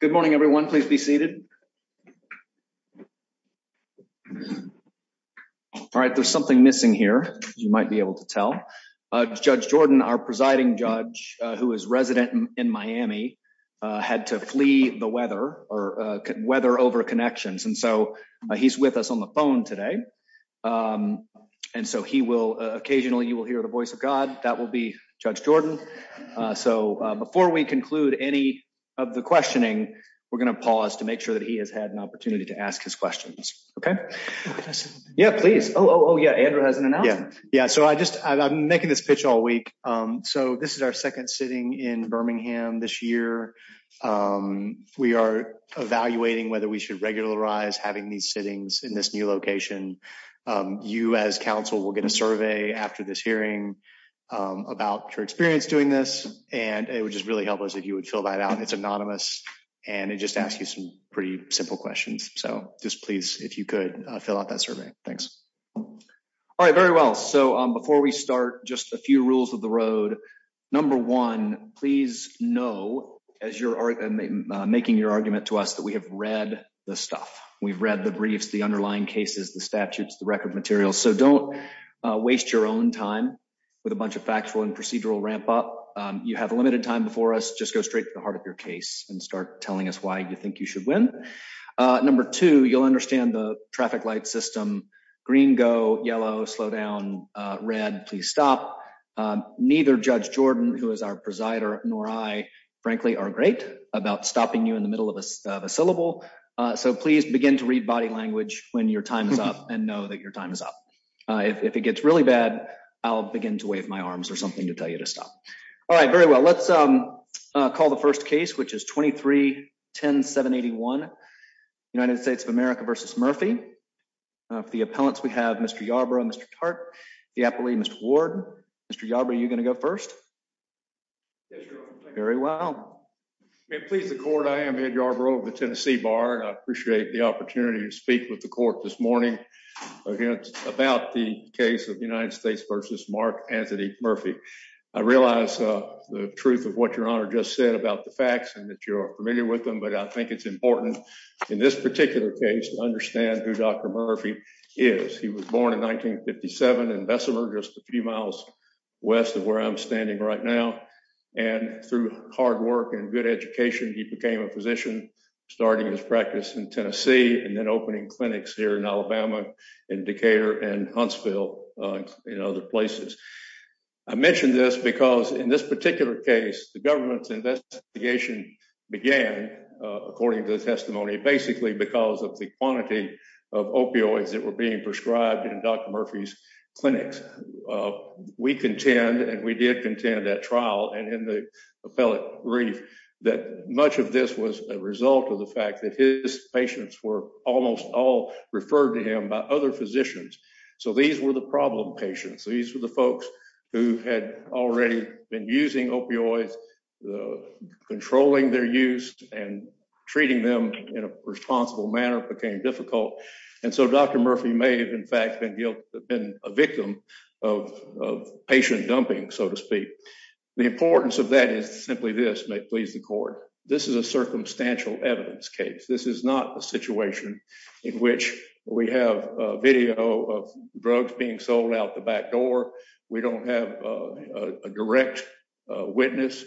Good morning, everyone. Please be seated. All right, there's something missing here. You might be able to tell. Judge Jordan, our presiding judge, who is resident in Miami, had to flee the weather or weather over connections and so he's with us on the phone today. And so he will occasionally you will hear the voice of God that will be Judge Jordan. So, before we conclude any of the questioning, we're going to pause to make sure that he has had an opportunity to ask his questions. Okay. Yeah, please. Oh yeah. Yeah, yeah. So I just, I'm making this pitch all week. So this is our second sitting in Birmingham this year. We are evaluating whether we should regularize having these sittings in this new location. You as counsel will get a survey after this hearing about your experience doing this, and it would just really help us if you would fill that out. It's anonymous, and it just asks you some pretty simple questions. So, just please, if you could fill out that survey. Thanks. All right, very well so before we start just a few rules of the road. Number one, please know, as you're making your argument to us that we have read the stuff we've read the briefs the underlying cases the statutes the record materials so don't waste your own time with a bunch of factual and procedural ramp up. You have a limited time before us just go straight to the heart of your case and start telling us why you think you should win. Number two, you'll understand the traffic light system, green go yellow slow down, red, please stop. Neither judge Jordan who is our presider, nor I frankly are great about stopping you in the middle of a syllable. So please begin to read body language, when your time is up and know that your time is up. If it gets really bad. I'll begin to wave my arms or something to tell you to stop. All right, very well let's call the first case which is 23 10781 United States of America versus Murphy. The appellants we have Mr Yarbrough Mr. Hart, the appellee Mr Ward, Mr Yarbrough you're going to go first. Very well. Please the court I am Ed Yarbrough of the Tennessee bar and I appreciate the opportunity to speak with the court this morning against about the case of the United States versus Mark Anthony Murphy, I realized the truth of what your honor just said about the facts and that you're familiar with them but I think it's important in this particular case to understand who Dr. Murphy is he was born in 1957 in Bessemer just a few miles west of where I'm standing right now. And through hard work and good education he became a physician, starting his practice in Tennessee and then opening clinics here in Alabama indicator and Huntsville. In other places. I mentioned this because in this particular case, the government's investigation began, according to the testimony basically because of the quantity of opioids that were being prescribed and Dr Murphy's clinics. We contend and we did contend that trial and in the appellate brief that much of this was a result of the fact that his patients were almost all referred to him by other physicians. So these were the problem patients. These are the folks who had already been using opioids, the controlling their use and treating them in a responsible manner became difficult. And so Dr Murphy may have in fact been a victim of patient dumping, so to speak. The importance of that is simply this may please the court. This is a circumstantial evidence case this is not a situation in which we have video of drugs being sold out the back door. We don't have a direct witness,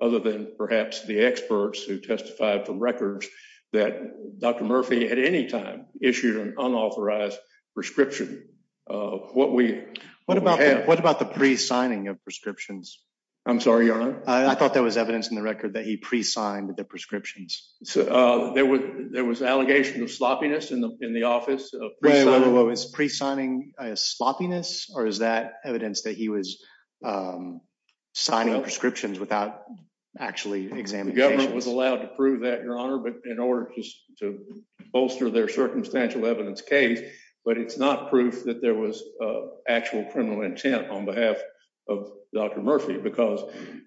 other than perhaps the experts who testified from records that Dr Murphy at any time issued an unauthorized prescription. What we, what about what about the pre signing of prescriptions. I'm sorry, I thought that was evidence in the record that he pre signed the prescriptions. There was there was allegation of sloppiness in the, in the office. What was pre signing a sloppiness, or is that evidence that he was signing prescriptions without actually examining government was allowed to prove that your honor but in order to bolster their circumstantial evidence case, but it's not proof that there was actual criminal intent on behalf of Dr Murphy because,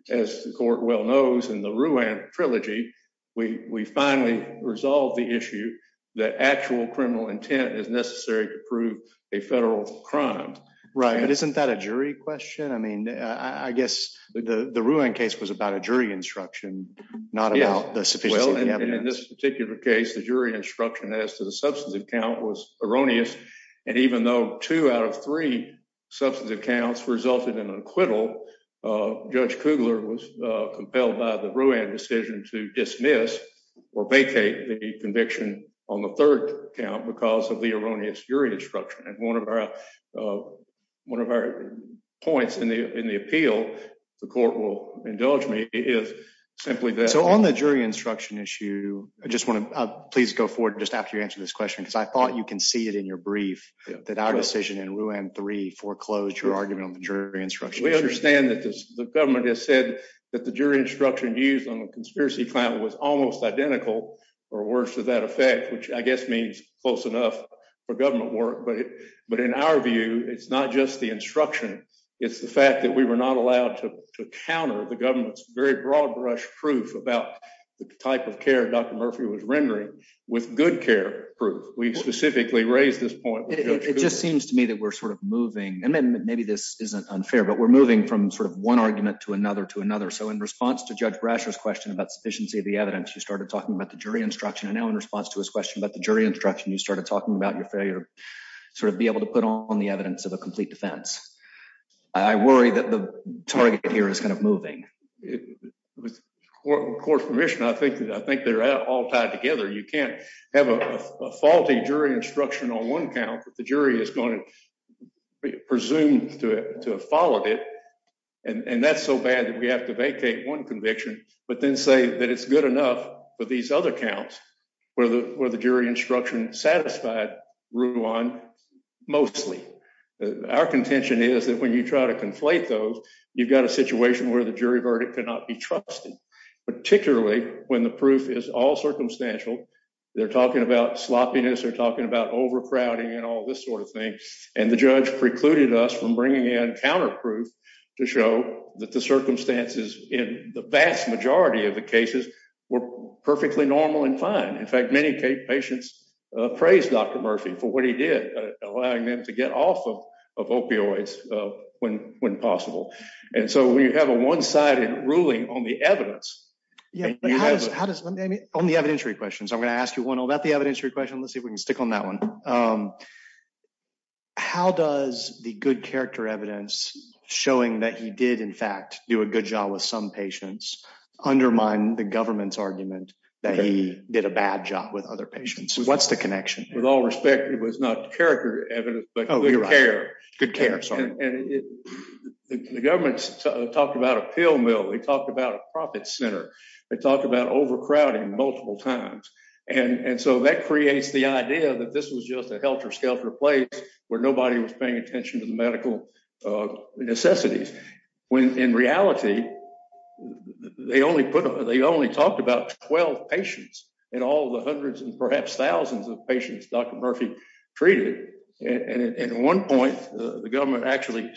as the court well knows in the ruin trilogy. We finally resolved the issue that actual criminal intent is necessary to prove a federal crime. Right. Isn't that a jury question I mean, I guess the the ruin case was about a jury instruction, not about this particular case the jury instruction as to the substance of account was erroneous. And even though two out of three substantive counts resulted in acquittal. Judge Kugler was compelled by the ruin decision to dismiss or vacate the conviction on the third count because of the erroneous jury instruction and one of our, one of our points in the, in the appeal, the court will indulge me is simply that so on the jury instruction issue. I just want to please go forward just after you answer this question because I thought you can see it in your brief that our decision and ruin three foreclosure argument on the jury instruction we understand that the government has said that the jury instruction used on the conspiracy client was almost identical, or worse to that effect, which I guess means close enough for government work but but in our view, it's not just the instruction. It's the fact that we were not allowed to counter the government's very broad brush proof about the type of care Dr Murphy was rendering with good care proof we specifically raised this point, it just seems to me that we're sort of moving and then maybe this isn't unfair but we're moving from sort of one argument to another to another so in response to judge brushes question about sufficiency of the evidence you started talking about the jury instruction and now in response to his question about the jury instruction you started talking about your failure, sort of be able to put on the evidence of a complete defense. I worry that the target here is kind of moving with court permission I think that I think they're all tied together you can't have a faulty jury instruction on one count, the jury is going to presume to have followed it. And that's so bad that we have to vacate one conviction, but then say that it's good enough for these other counts, where the, where the jury instruction satisfied run mostly our contention is that when you try to conflate those, you've got a situation where the jury verdict cannot be trusted, particularly when the proof is all circumstantial. They're talking about sloppiness are talking about overcrowding and all this sort of thing. And the judge precluded us from bringing in counterproof to show that the circumstances in the vast majority of the cases were perfectly normal and fine. In fact, many patients praise Dr. Murphy for what he did, allowing them to get off of opioids. When, when possible. And so we have a one sided ruling on the evidence. How does on the evidentiary questions I'm going to ask you one about the evidentiary question let's see if we can stick on that one. How does the good character evidence, showing that he did in fact do a good job with some patients undermine the government's argument that he did a bad job with other patients, what's the connection, with all respect, it was not character. Good care. The government's talked about a pill mill they talked about a profit center. They talked about overcrowding multiple times. And so that creates the idea that this was just a helter skelter place where nobody was paying attention to the medical necessities. When in reality, they only put them, they only talked about 12 patients, and all the hundreds and perhaps thousands of patients Dr Murphy treated. And at one point, the government actually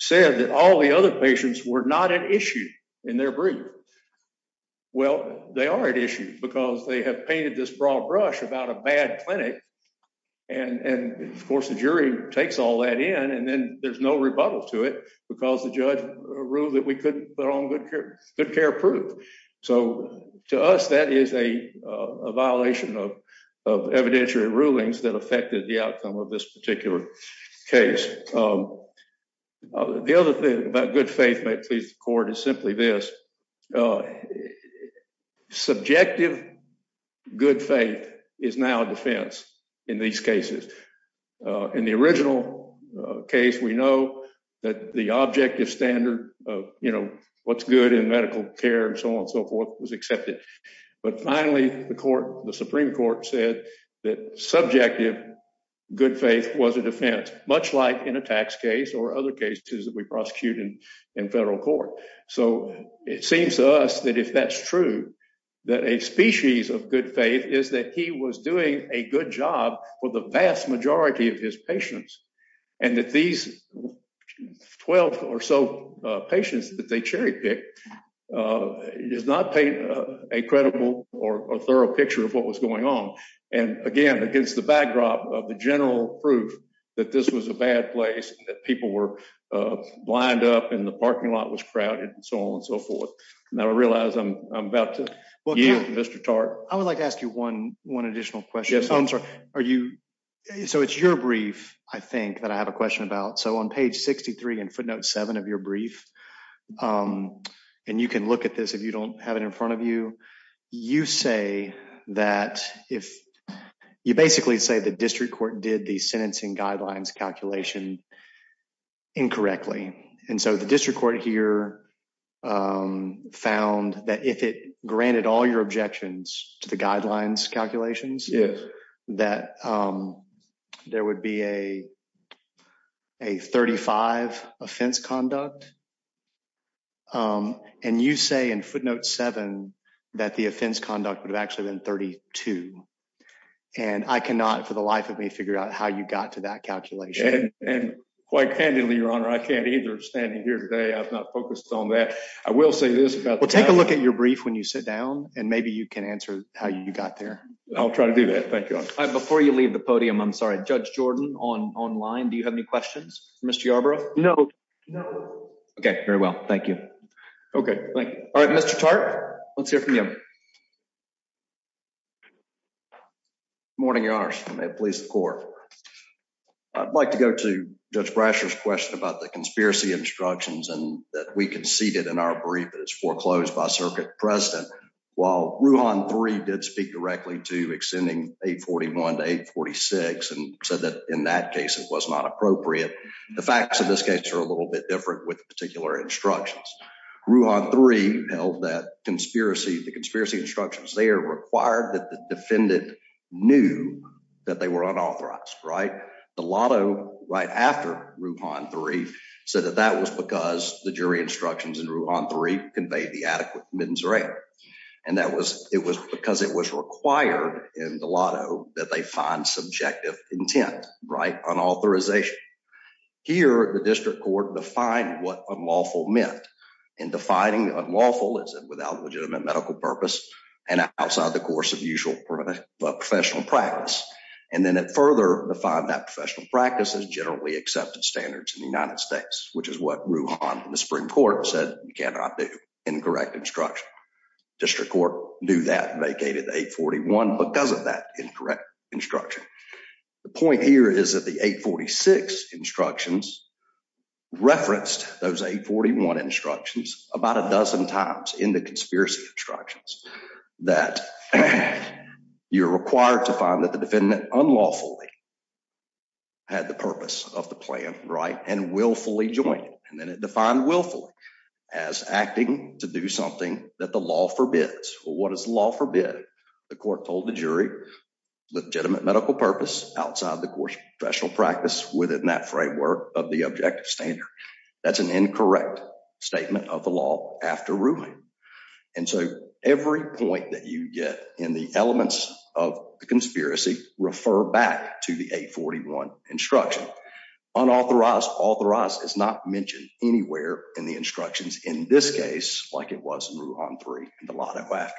said that all the other patients were not an issue in their brief. Well, they are an issue because they have painted this broad brush about a bad clinic. And of course the jury takes all that in and then there's no rebuttal to it because the judge ruled that we couldn't put on good care, good care proof. So, to us that is a violation of evidentiary rulings that affected the outcome of this particular case. The other thing about good faith court is simply this subjective good faith is now defense. In these cases, in the original case we know that the objective standard of, you know, what's good in medical care and so on and so forth was accepted. But finally, the court, the Supreme Court said that subjective good faith was a defense, much like in a tax case or other cases that we prosecuted in federal court. So, it seems to us that if that's true, that a species of good faith is that he was doing a good job for the vast majority of his patients, and that these 12 or so patients that they cherry pick is not a credible or a thorough picture of what was going on. And again, against the backdrop of the general proof that this was a bad place that people were lined up in the parking lot was crowded and so on and so forth. Now I realize I'm about to. Mr. Tartt, I would like to ask you one, one additional question. Yes, I'm sorry. Are you. So it's your brief, I think that I have a question about so on page 63 and footnote seven of your brief. And you can look at this if you don't have it in front of you. You say that if you basically say the district court did the sentencing guidelines calculation incorrectly. And so the district court here found that if it granted all your objections to the guidelines calculations. Yes, that there would be a, a 35 offense conduct. And you say in footnote seven, that the offense conduct would have actually been 32. And I cannot for the life of me figure out how you got to that calculation, and quite candidly Your Honor I can't either standing here today I've not focused on that. I will say this about take a look at your brief when you sit down, and maybe you can answer how you got there. I'll try to do that. Thank you. Do you have any questions, Mr Arbor. No. Okay, very well. Thank you. All right, Mr Tartt. Let's hear from you. Morning, Your Honor, may it please the court. I'd like to go to Judge Brasher's question about the conspiracy instructions and that we conceded in our brief that it's foreclosed by circuit precedent. While Ruhan three did speak directly to extending 841 to 846 and said that in that case it was not appropriate. The facts of this case are a little bit different with particular instructions. Ruhan three held that conspiracy, the conspiracy instructions, they are required that the defendant knew that they were unauthorized, right? The lotto right after Ruhan three said that that was because the jury instructions in Ruhan three conveyed the adequate committance rate. And that was it was because it was required in the lotto that they find subjective intent right on authorization. Here, the district court defined what unlawful meant in defining unlawful is without legitimate medical purpose and outside the course of usual professional practice. And then it further defined that professional practices generally accepted standards in the United States, which is what Ruhan in the Supreme Court said you cannot do incorrect instruction. District Court knew that vacated 841 because of that incorrect instruction. The point here is that the 846 instructions referenced those 841 instructions about a dozen times in the conspiracy instructions that you're required to find that the defendant unlawfully had the purpose of the plan right and willfully joined. And then it defined willfully as acting to do something that the law forbids. Well, what does law forbid? The court told the jury legitimate medical purpose outside the course of professional practice within that framework of the objective standard. That's an incorrect statement of the law after Ruhan. And so every point that you get in the elements of the conspiracy refer back to the 841 instruction. Unauthorized, authorized is not mentioned anywhere in the instructions in this case, like it was in Ruhan 3 and the Lotto Act.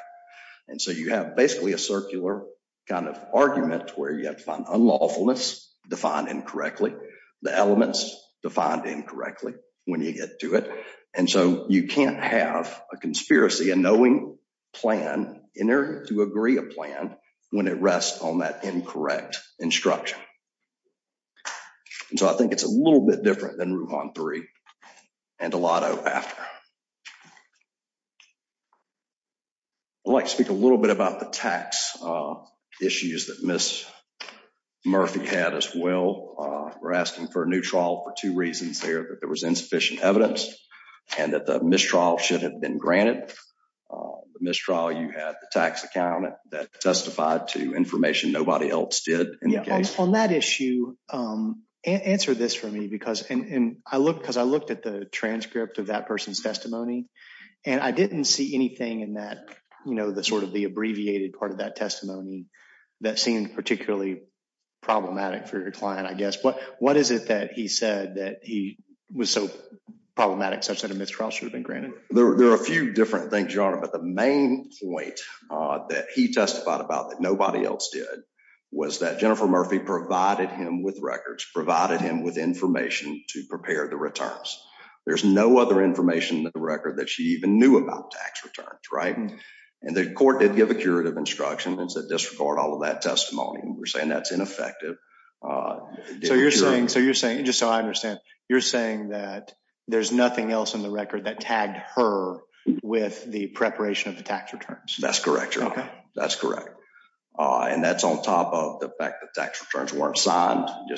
And so you have basically a circular kind of argument where you have to find unlawfulness defined incorrectly, the elements defined incorrectly when you get to it. And so you can't have a conspiracy, a knowing plan in there to agree a plan when it rests on that incorrect instruction. And so I think it's a little bit different than Ruhan 3 and the Lotto Act. I'd like to speak a little bit about the tax issues that Miss Murphy had as well. We're asking for a new trial for two reasons. There was insufficient evidence and that the mistrial should have been granted the mistrial. You had the tax accountant that testified to information nobody else did on that issue. Answer this for me, because I look because I looked at the transcript of that person's testimony and I didn't see anything in that. You know, the sort of the abbreviated part of that testimony that seemed particularly problematic for your client, I guess. But what is it that he said that he was so problematic such that a mistrial should have been granted? There are a few different things, your honor. But the main point that he testified about that nobody else did was that Jennifer Murphy provided him with records, provided him with information to prepare the returns. There's no other information in the record that she even knew about tax returns. Right. And the court did give a curative instruction and said disregard all of that testimony. We're saying that's ineffective. So you're saying so you're saying just so I understand, you're saying that there's nothing else in the record that tagged her with the preparation of the tax returns. That's correct. That's correct. And that's on top of the fact that tax returns weren't signed. You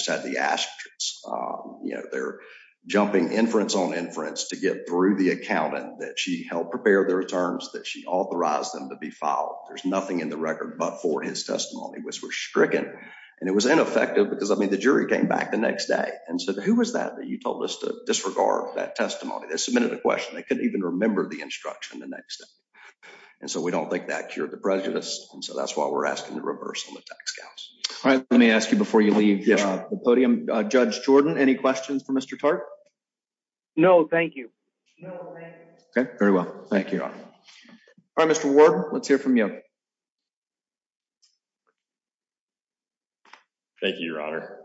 know, they're jumping inference on inference to get through the accountant that she helped prepare their terms, that she authorized them to be filed. There's nothing in the record but for his testimony was were stricken and it was ineffective because, I mean, the jury came back the next day. And so who was that that you told us to disregard that testimony that submitted a question? They couldn't even remember the instruction the next day. And so we don't think that cured the prejudice. And so that's why we're asking the reversal of tax cuts. All right. Let me ask you before you leave the podium. Judge Jordan, any questions for Mr. Tartt? No, thank you. OK, very well. Thank you. Mr. Ward, let's hear from you. Thank you, Your Honor.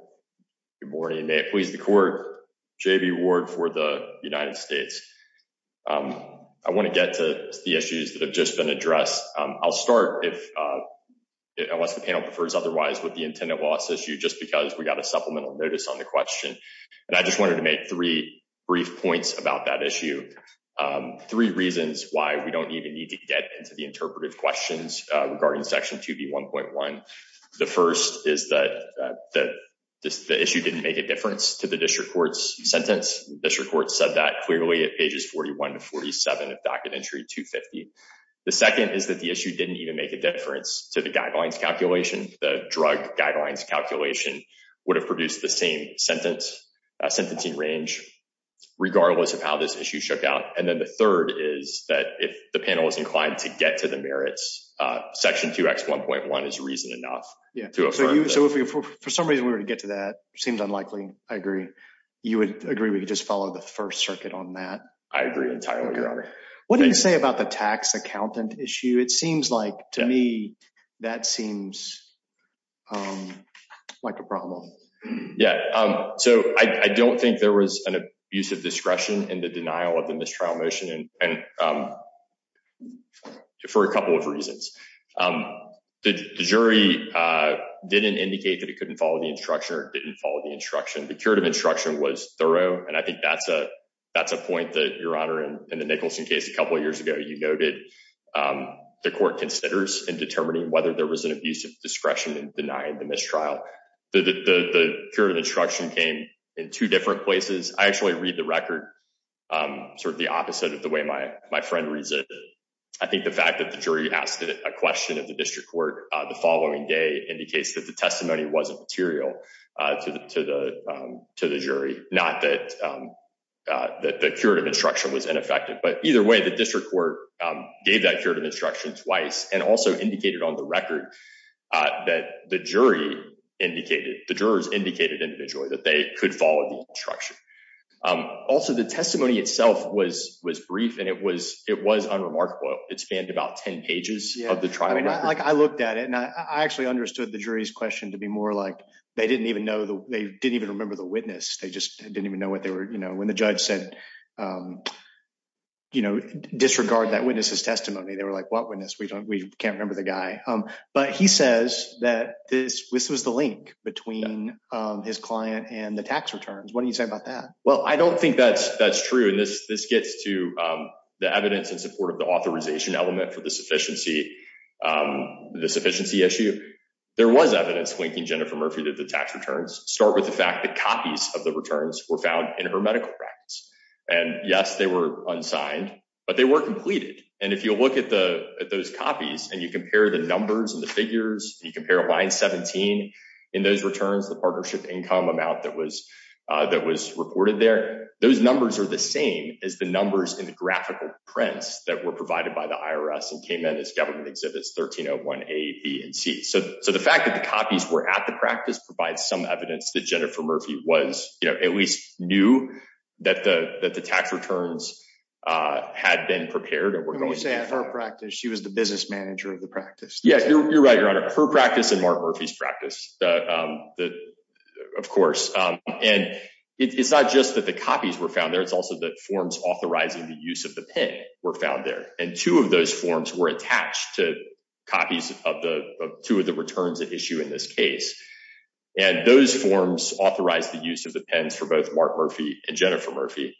Good morning. May it please the court. J.B. Ward for the United States. I want to get to the issues that have just been addressed. I'll start if unless the panel prefers otherwise with the intended loss issue, just because we got a supplemental notice on the question. And I just wanted to make three brief points about that issue. Three reasons why we don't even need to get into the interpretive questions regarding Section 2B 1.1. The first is that the issue didn't make a difference to the district court's sentence. This report said that clearly at pages 41 to 47 of documentary 250. The second is that the issue didn't even make a difference to the guidelines calculation. The drug guidelines calculation would have produced the same sentence sentencing range regardless of how this issue shook out. And then the third is that if the panel is inclined to get to the merits, Section 2X 1.1 is reason enough. Yeah. So if for some reason we were to get to that seems unlikely. I agree. You would agree. We could just follow the first circuit on that. I agree entirely, Your Honor. What do you say about the tax accountant issue? It seems like to me that seems like a problem. Yeah. So I don't think there was an abuse of discretion in the denial of the mistrial motion. And for a couple of reasons, the jury didn't indicate that it couldn't follow the instruction or didn't follow the instruction. The curative instruction was thorough. And I think that's a that's a point that you're honoring in the Nicholson case. A couple of years ago, you noted the court considers in determining whether there was an abuse of discretion in denying the mistrial. The curative instruction came in two different places. I actually read the record sort of the opposite of the way my my friend reads it. I think the fact that the jury asked a question of the district court the following day indicates that the testimony wasn't material to the to the to the jury. Not that that the curative instruction was ineffective. But either way, the district court gave that curative instruction twice and also indicated on the record that the jury indicated the jurors indicated individually that they could follow the instruction. Also, the testimony itself was was brief and it was it was unremarkable. I mean, like I looked at it and I actually understood the jury's question to be more like they didn't even know they didn't even remember the witness. They just didn't even know what they were. You know, when the judge said, you know, disregard that witness's testimony, they were like, what witness? We don't we can't remember the guy. But he says that this was the link between his client and the tax returns. What do you say about that? Well, I don't think that's that's true. And this this gets to the evidence in support of the authorization element for the sufficiency, the sufficiency issue. There was evidence linking Jennifer Murphy to the tax returns. Start with the fact that copies of the returns were found in her medical records. And yes, they were unsigned, but they were completed. And if you look at the at those copies and you compare the numbers and the figures, you compare line 17 in those returns, the partnership income amount that was that was reported there. Those numbers are the same as the numbers in the graphical prints that were provided by the IRS and came in as government exhibits. A, B and C. So the fact that the copies were at the practice provides some evidence that Jennifer Murphy was at least knew that the that the tax returns had been prepared. And we're going to say at her practice, she was the business manager of the practice. Yeah, you're right, Your Honor. Her practice and Mark Murphy's practice. Of course. And it's not just that the copies were found there. It's also that forms authorizing the use of the pen were found there. And two of those forms were attached to copies of the two of the returns at issue in this case. And those forms authorized the use of the pens for both Mark Murphy and Jennifer Murphy.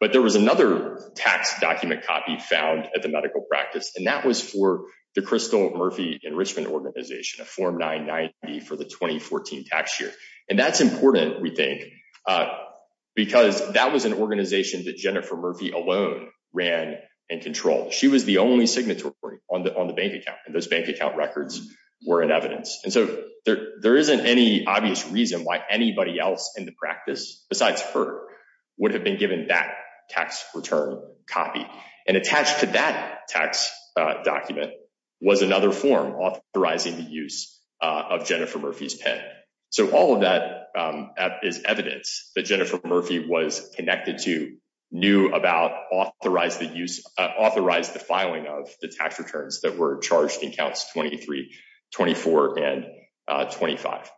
But there was another tax document copy found at the medical practice, and that was for the Crystal Murphy Enrichment Organization, a Form 990 for the 2014 tax year. And that's important, we think, because that was an organization that Jennifer Murphy alone ran and controlled. She was the only signatory on the bank account and those bank account records were in evidence. And so there isn't any obvious reason why anybody else in the practice besides her would have been given that tax return copy. And attached to that tax document was another form authorizing the use of Jennifer Murphy's pen. So all of that is evidence that Jennifer Murphy was connected to, knew about, authorized the filing of the tax returns that were charged in Counts 23, 24, and 25.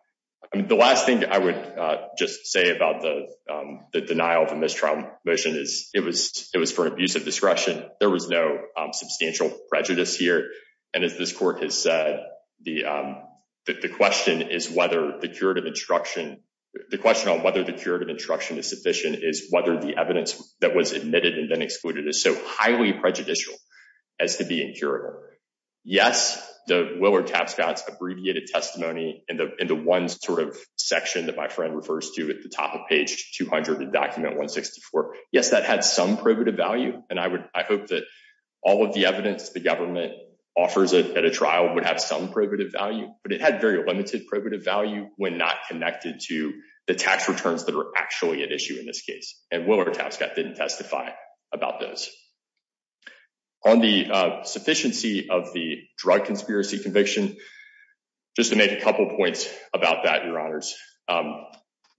The last thing I would just say about the denial of a mistrial motion is it was for abuse of discretion. There was no substantial prejudice here. And as this court has said, the question on whether the curative instruction is sufficient is whether the evidence that was admitted and then excluded is so highly prejudicial as to be incurable. Yes, the Willard Tapscott's abbreviated testimony in the one sort of section that my friend refers to at the top of page 200 in document 164. Yes, that had some probative value, and I hope that all of the evidence the government offers at a trial would have some probative value. But it had very limited probative value when not connected to the tax returns that are actually at issue in this case. And Willard Tapscott didn't testify about those. On the sufficiency of the drug conspiracy conviction, just to make a couple of points about that, Your Honors.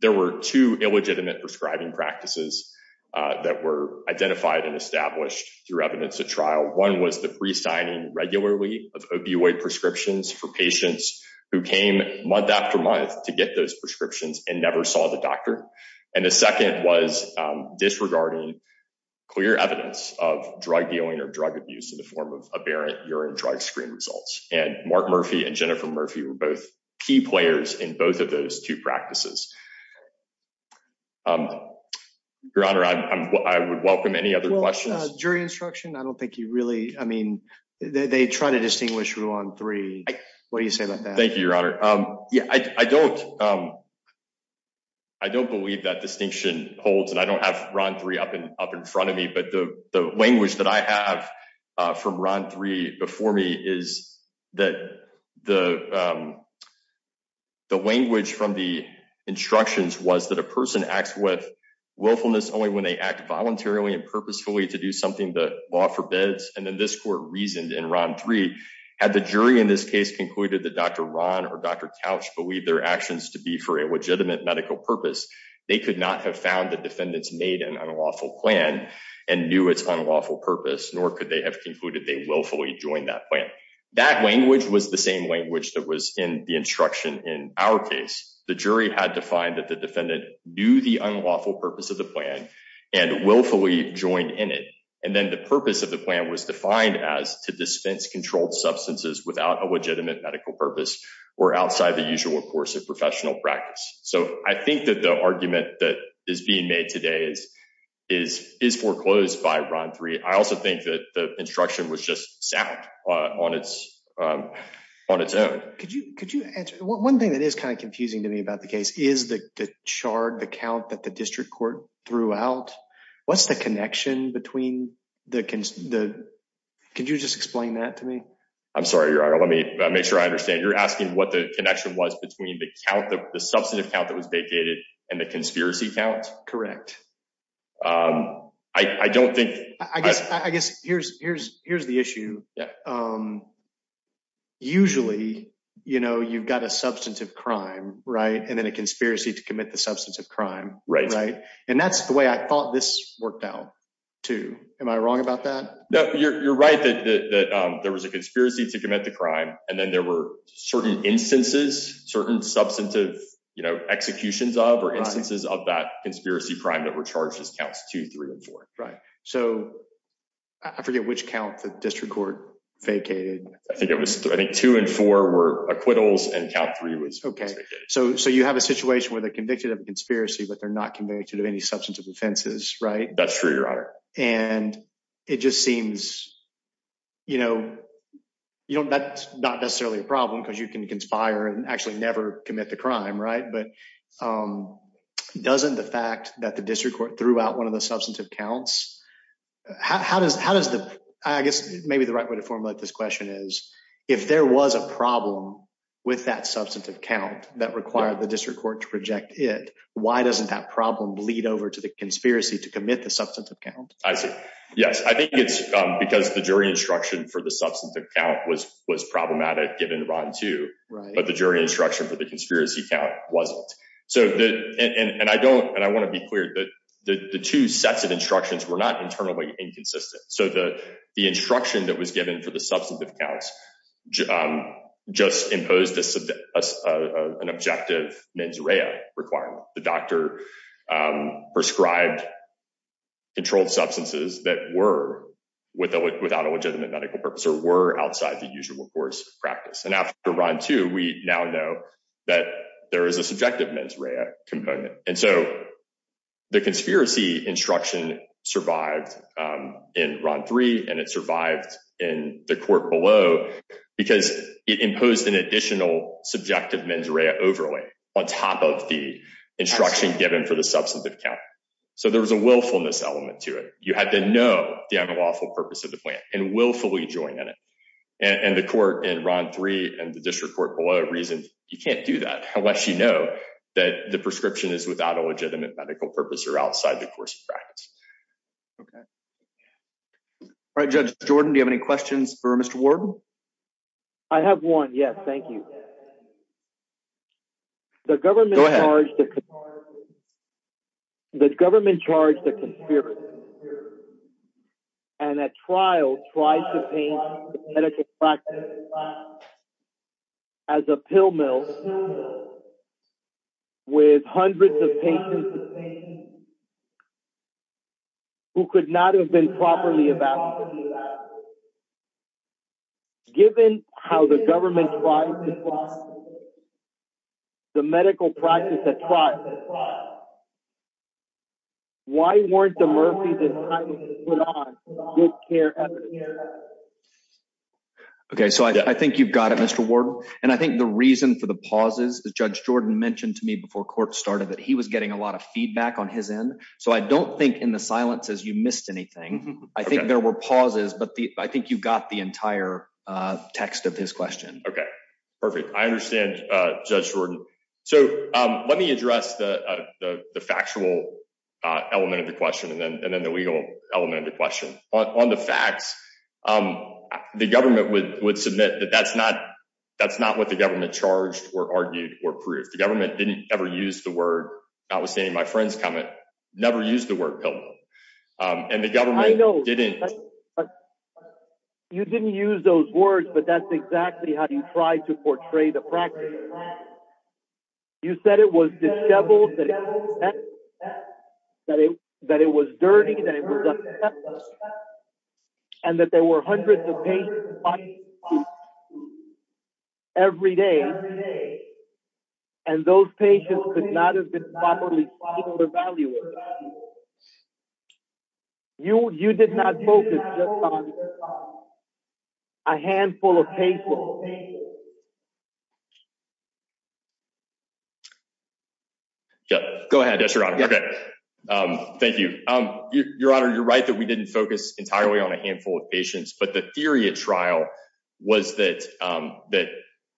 There were two illegitimate prescribing practices that were identified and established through evidence at trial. One was the presigning regularly of opioid prescriptions for patients who came month after month to get those prescriptions and never saw the doctor. And the second was disregarding clear evidence of drug dealing or drug abuse in the form of aberrant urine drug screen results. And Mark Murphy and Jennifer Murphy were both key players in both of those two practices. Your Honor, I would welcome any other questions. Jury instruction. I don't think you really I mean, they try to distinguish rule on three. What do you say about that? Thank you, Your Honor. I don't I don't believe that distinction holds and I don't have run three up and up in front of me. But the language that I have from run three before me is that the. The language from the instructions was that a person acts with willfulness only when they act voluntarily and purposefully to do something that law forbids. And then this court reasoned in run three had the jury in this case concluded that Dr. Ron or Dr. Couch believe their actions to be for a legitimate medical purpose. They could not have found the defendants made an unlawful plan and knew it's unlawful purpose, nor could they have concluded they willfully join that plan. That language was the same language that was in the instruction. In our case, the jury had to find that the defendant knew the unlawful purpose of the plan and willfully joined in it. And then the purpose of the plan was defined as to dispense controlled substances without a legitimate medical purpose or outside the usual course of professional practice. So I think that the argument that is being made today is is is foreclosed by run three. I also think that the instruction was just sound on its own. Could you could you answer one thing that is kind of confusing to me about the case is the charred the count that the district court throughout. What's the connection between the the. Could you just explain that to me. I'm sorry, let me make sure I understand you're asking what the connection was between the count of the substantive count that was vacated and the conspiracy count. I don't think I guess I guess here's here's here's the issue. Usually, you know, you've got a substantive crime right and then a conspiracy to commit the substantive crime right right and that's the way I thought this worked out to am I wrong about that. You're right that there was a conspiracy to commit the crime, and then there were certain instances certain substantive, you know, executions of or instances of that conspiracy crime that were charged as counts to three and four. Right. So, I forget which count the district court vacated. I think it was I think two and four were acquittals and count three was okay. So you have a situation where they're convicted of a conspiracy but they're not convicted of any substantive offenses right that's true your honor, and it just seems, you know, you don't that's not necessarily a problem because you can conspire and actually never commit the crime right but doesn't the fact that the district court throughout one of the substantive counts. How does, how does the, I guess, maybe the right way to formulate this question is, if there was a problem with that substantive count that required the district court to reject it. Why doesn't that problem bleed over to the conspiracy to commit the substance of account. I see. Yes, I think it's because the jury instruction for the substance of account was was problematic given to run to the jury instruction for the conspiracy wasn't. So, and I don't and I want to be clear that the two sets of instructions were not internally inconsistent so the, the instruction that was given for the substantive counts. Just impose this as an objective mens rea requirement, the doctor prescribed controlled substances that were without without a legitimate medical purpose or were outside the usual course practice and after run to we now know that there is a subjective mens rea component, and so the conspiracy instruction survived in run three and it survived in the court below, because it imposed an additional subjective mens rea overlay on top of the instruction given for the substantive count. So there was a willfulness element to it, you had to know the unlawful purpose of the plant and willfully join in it, and the court in run three and the district court below reason, you can't do that, unless you know that the prescription is without a legitimate medical purpose or outside the course of practice. Okay. All right, Judge Jordan Do you have any questions for Mr. Ward. I have one yes thank you. The government. The government charged the conspiracy. And that trial tries to paint as a pill mill with hundreds of patients who could not have been properly about. Given how the government. The medical practice that. Why weren't the Murphy's in good care. Okay, so I think you've got it Mr Ward, and I think the reason for the pauses the judge Jordan mentioned to me before court started that he was getting a lot of feedback on his end, so I don't think in the silence as you missed anything. I think there were pauses but the, I think you've got the entire text of this question. Okay, perfect. I understand. So, let me address the factual element of the question and then and then the legal element of the question on the facts. The government would would submit that that's not, that's not what the government charged or argued or proof the government didn't ever use the word that was saying my friends comment, never use the word pill. And the government didn't. You didn't use those words but that's exactly how you try to portray the practice. You said it was disheveled. That it that it was dirty. And that there were hundreds of patients. Every day. And those patients could not have been properly. You, you did not focus. A handful of people. Go ahead. Thank you. Your Honor, you're right that we didn't focus entirely on a handful of patients but the theory at trial was that, that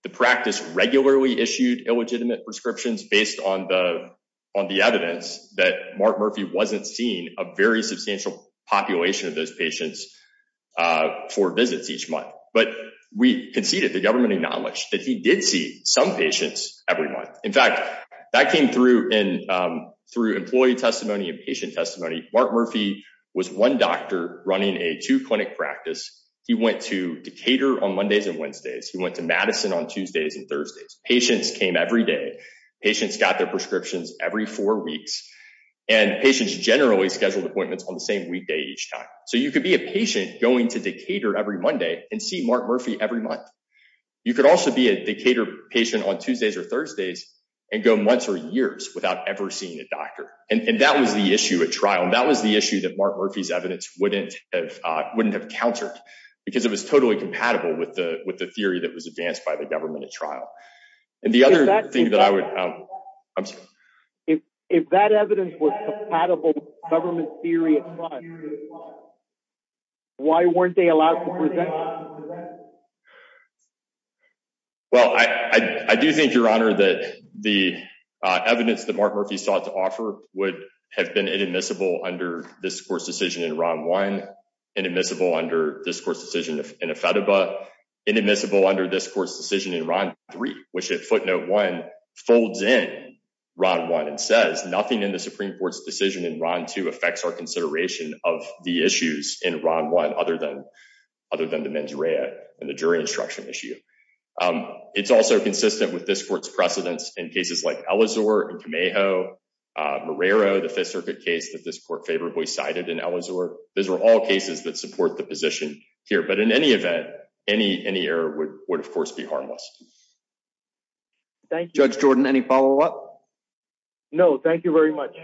the practice regularly issued illegitimate prescriptions based on the, on the evidence that Mark Murphy wasn't seen a very substantial population of those patients for visits each month, but we can see that the government acknowledged that he did see some patients, everyone. In fact, that came through in through employee testimony and patient testimony, Mark Murphy was one doctor running a to clinic practice. He went to cater on Mondays and Wednesdays he went to Madison on Tuesdays and Thursdays patients came every day. Patients got their prescriptions, every four weeks, and patients generally scheduled appointments on the same weekday each time, so you could be a patient going to the cater every Monday and see Mark Murphy every month. You could also be a cater patient on Tuesdays or Thursdays and go months or years without ever seeing a doctor, and that was the issue at trial and that was the issue that Mark Murphy's evidence wouldn't have wouldn't have countered, because it was totally compatible with the, with the theory that was advanced by the government at trial. And the other thing that I would. If, if that evidence was compatible government theory. Why weren't they allowed. Well, I do think your honor that the evidence that Mark Murphy sought to offer would have been inadmissible under this course decision in round one inadmissible under this course decision in a photo, but inadmissible under this course decision in round three, which it footnote one folds in round one and says nothing in the Supreme Court's decision in round two affects our consideration of the issues in round one, other than. Other than the mens rea, and the jury instruction issue. It's also consistent with this court's precedents in cases like Eleanor and tomato Marrero the Fifth Circuit case that this court favorably cited and Eleanor, those are all cases that support the position here but in any event, any any error would would of course be harmless. Thank you, Judge Jordan any follow up. No, thank you very much.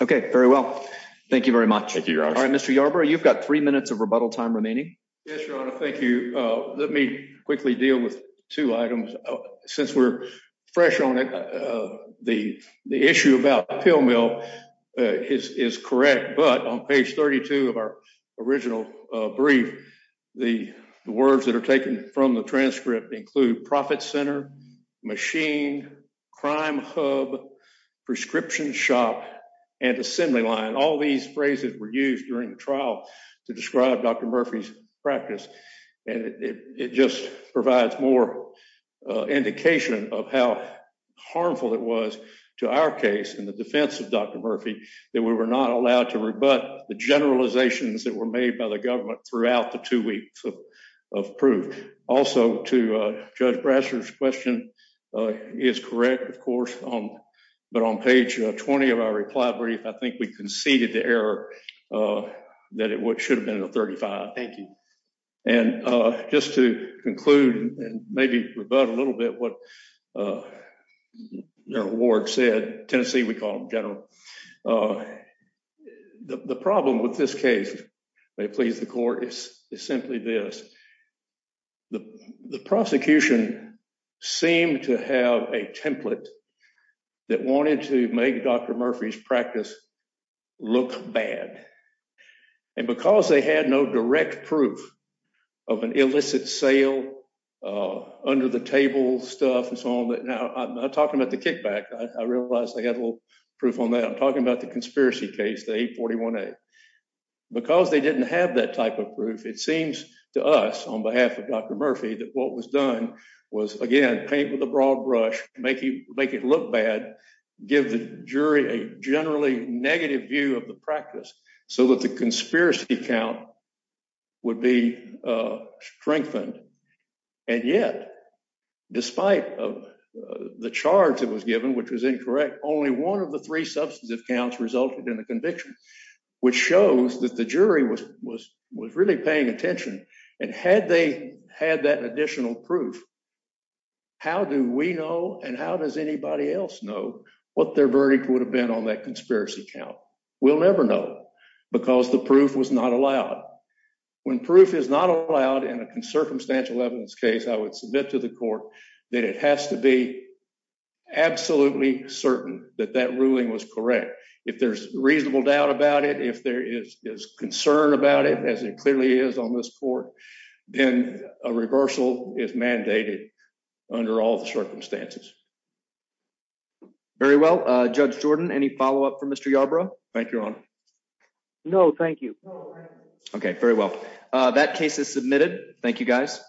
Okay, very well. Thank you very much. All right, Mr Yarbrough you've got three minutes of rebuttal time remaining. Thank you. Let me quickly deal with two items. Since we're fresh on it. The, the issue about the pill mill is correct but on page 32 of our original brief. The words that are taken from the transcript include profit center machine crime hub prescription shop and assembly line all these phrases were used during the trial to describe Dr Murphy's practice, and it just provides more indication of how harmful it was to our case in the defense of Dr. Murphy, that we were not allowed to rebut the generalizations that were made by the government throughout the two weeks of proof. Also to judge grassroots question is correct, of course, um, but on page 20 of our reply brief I think we conceded the error that it would should have been a 35. Thank you. And just to conclude, and maybe rebut a little bit what your award said Tennessee we call general. The problem with this case. They please the court is simply this. The prosecution seem to have a template that wanted to make Dr Murphy's practice look bad. And because they had no direct proof of an illicit sale under the table stuff and so on that now I'm talking about the kickback, I realized they had a little proof on that I'm talking about the conspiracy case they 41. Because they didn't have that type of proof it seems to us on behalf of Dr Murphy that what was done was again paint with a broad brush, make you make it look bad. Give the jury a generally negative view of the practice, so that the conspiracy account would be strengthened. And yet, despite the charge that was given which was incorrect only one of the three substantive counts resulted in a conviction, which shows that the jury was was was really paying attention. And had they had that additional proof. How do we know and how does anybody else know what their verdict would have been on that conspiracy account will never know, because the proof was not allowed. When proof is not allowed in a circumstantial evidence case I would submit to the court that it has to be absolutely certain that that ruling was correct. If there's reasonable doubt about it if there is is concerned about it as it clearly is on this court, then a reversal is mandated. Under all the circumstances. Very well, Judge Jordan any follow up for Mr. Thank you. No, thank you. Okay, very well. That case is submitted. Thank you guys.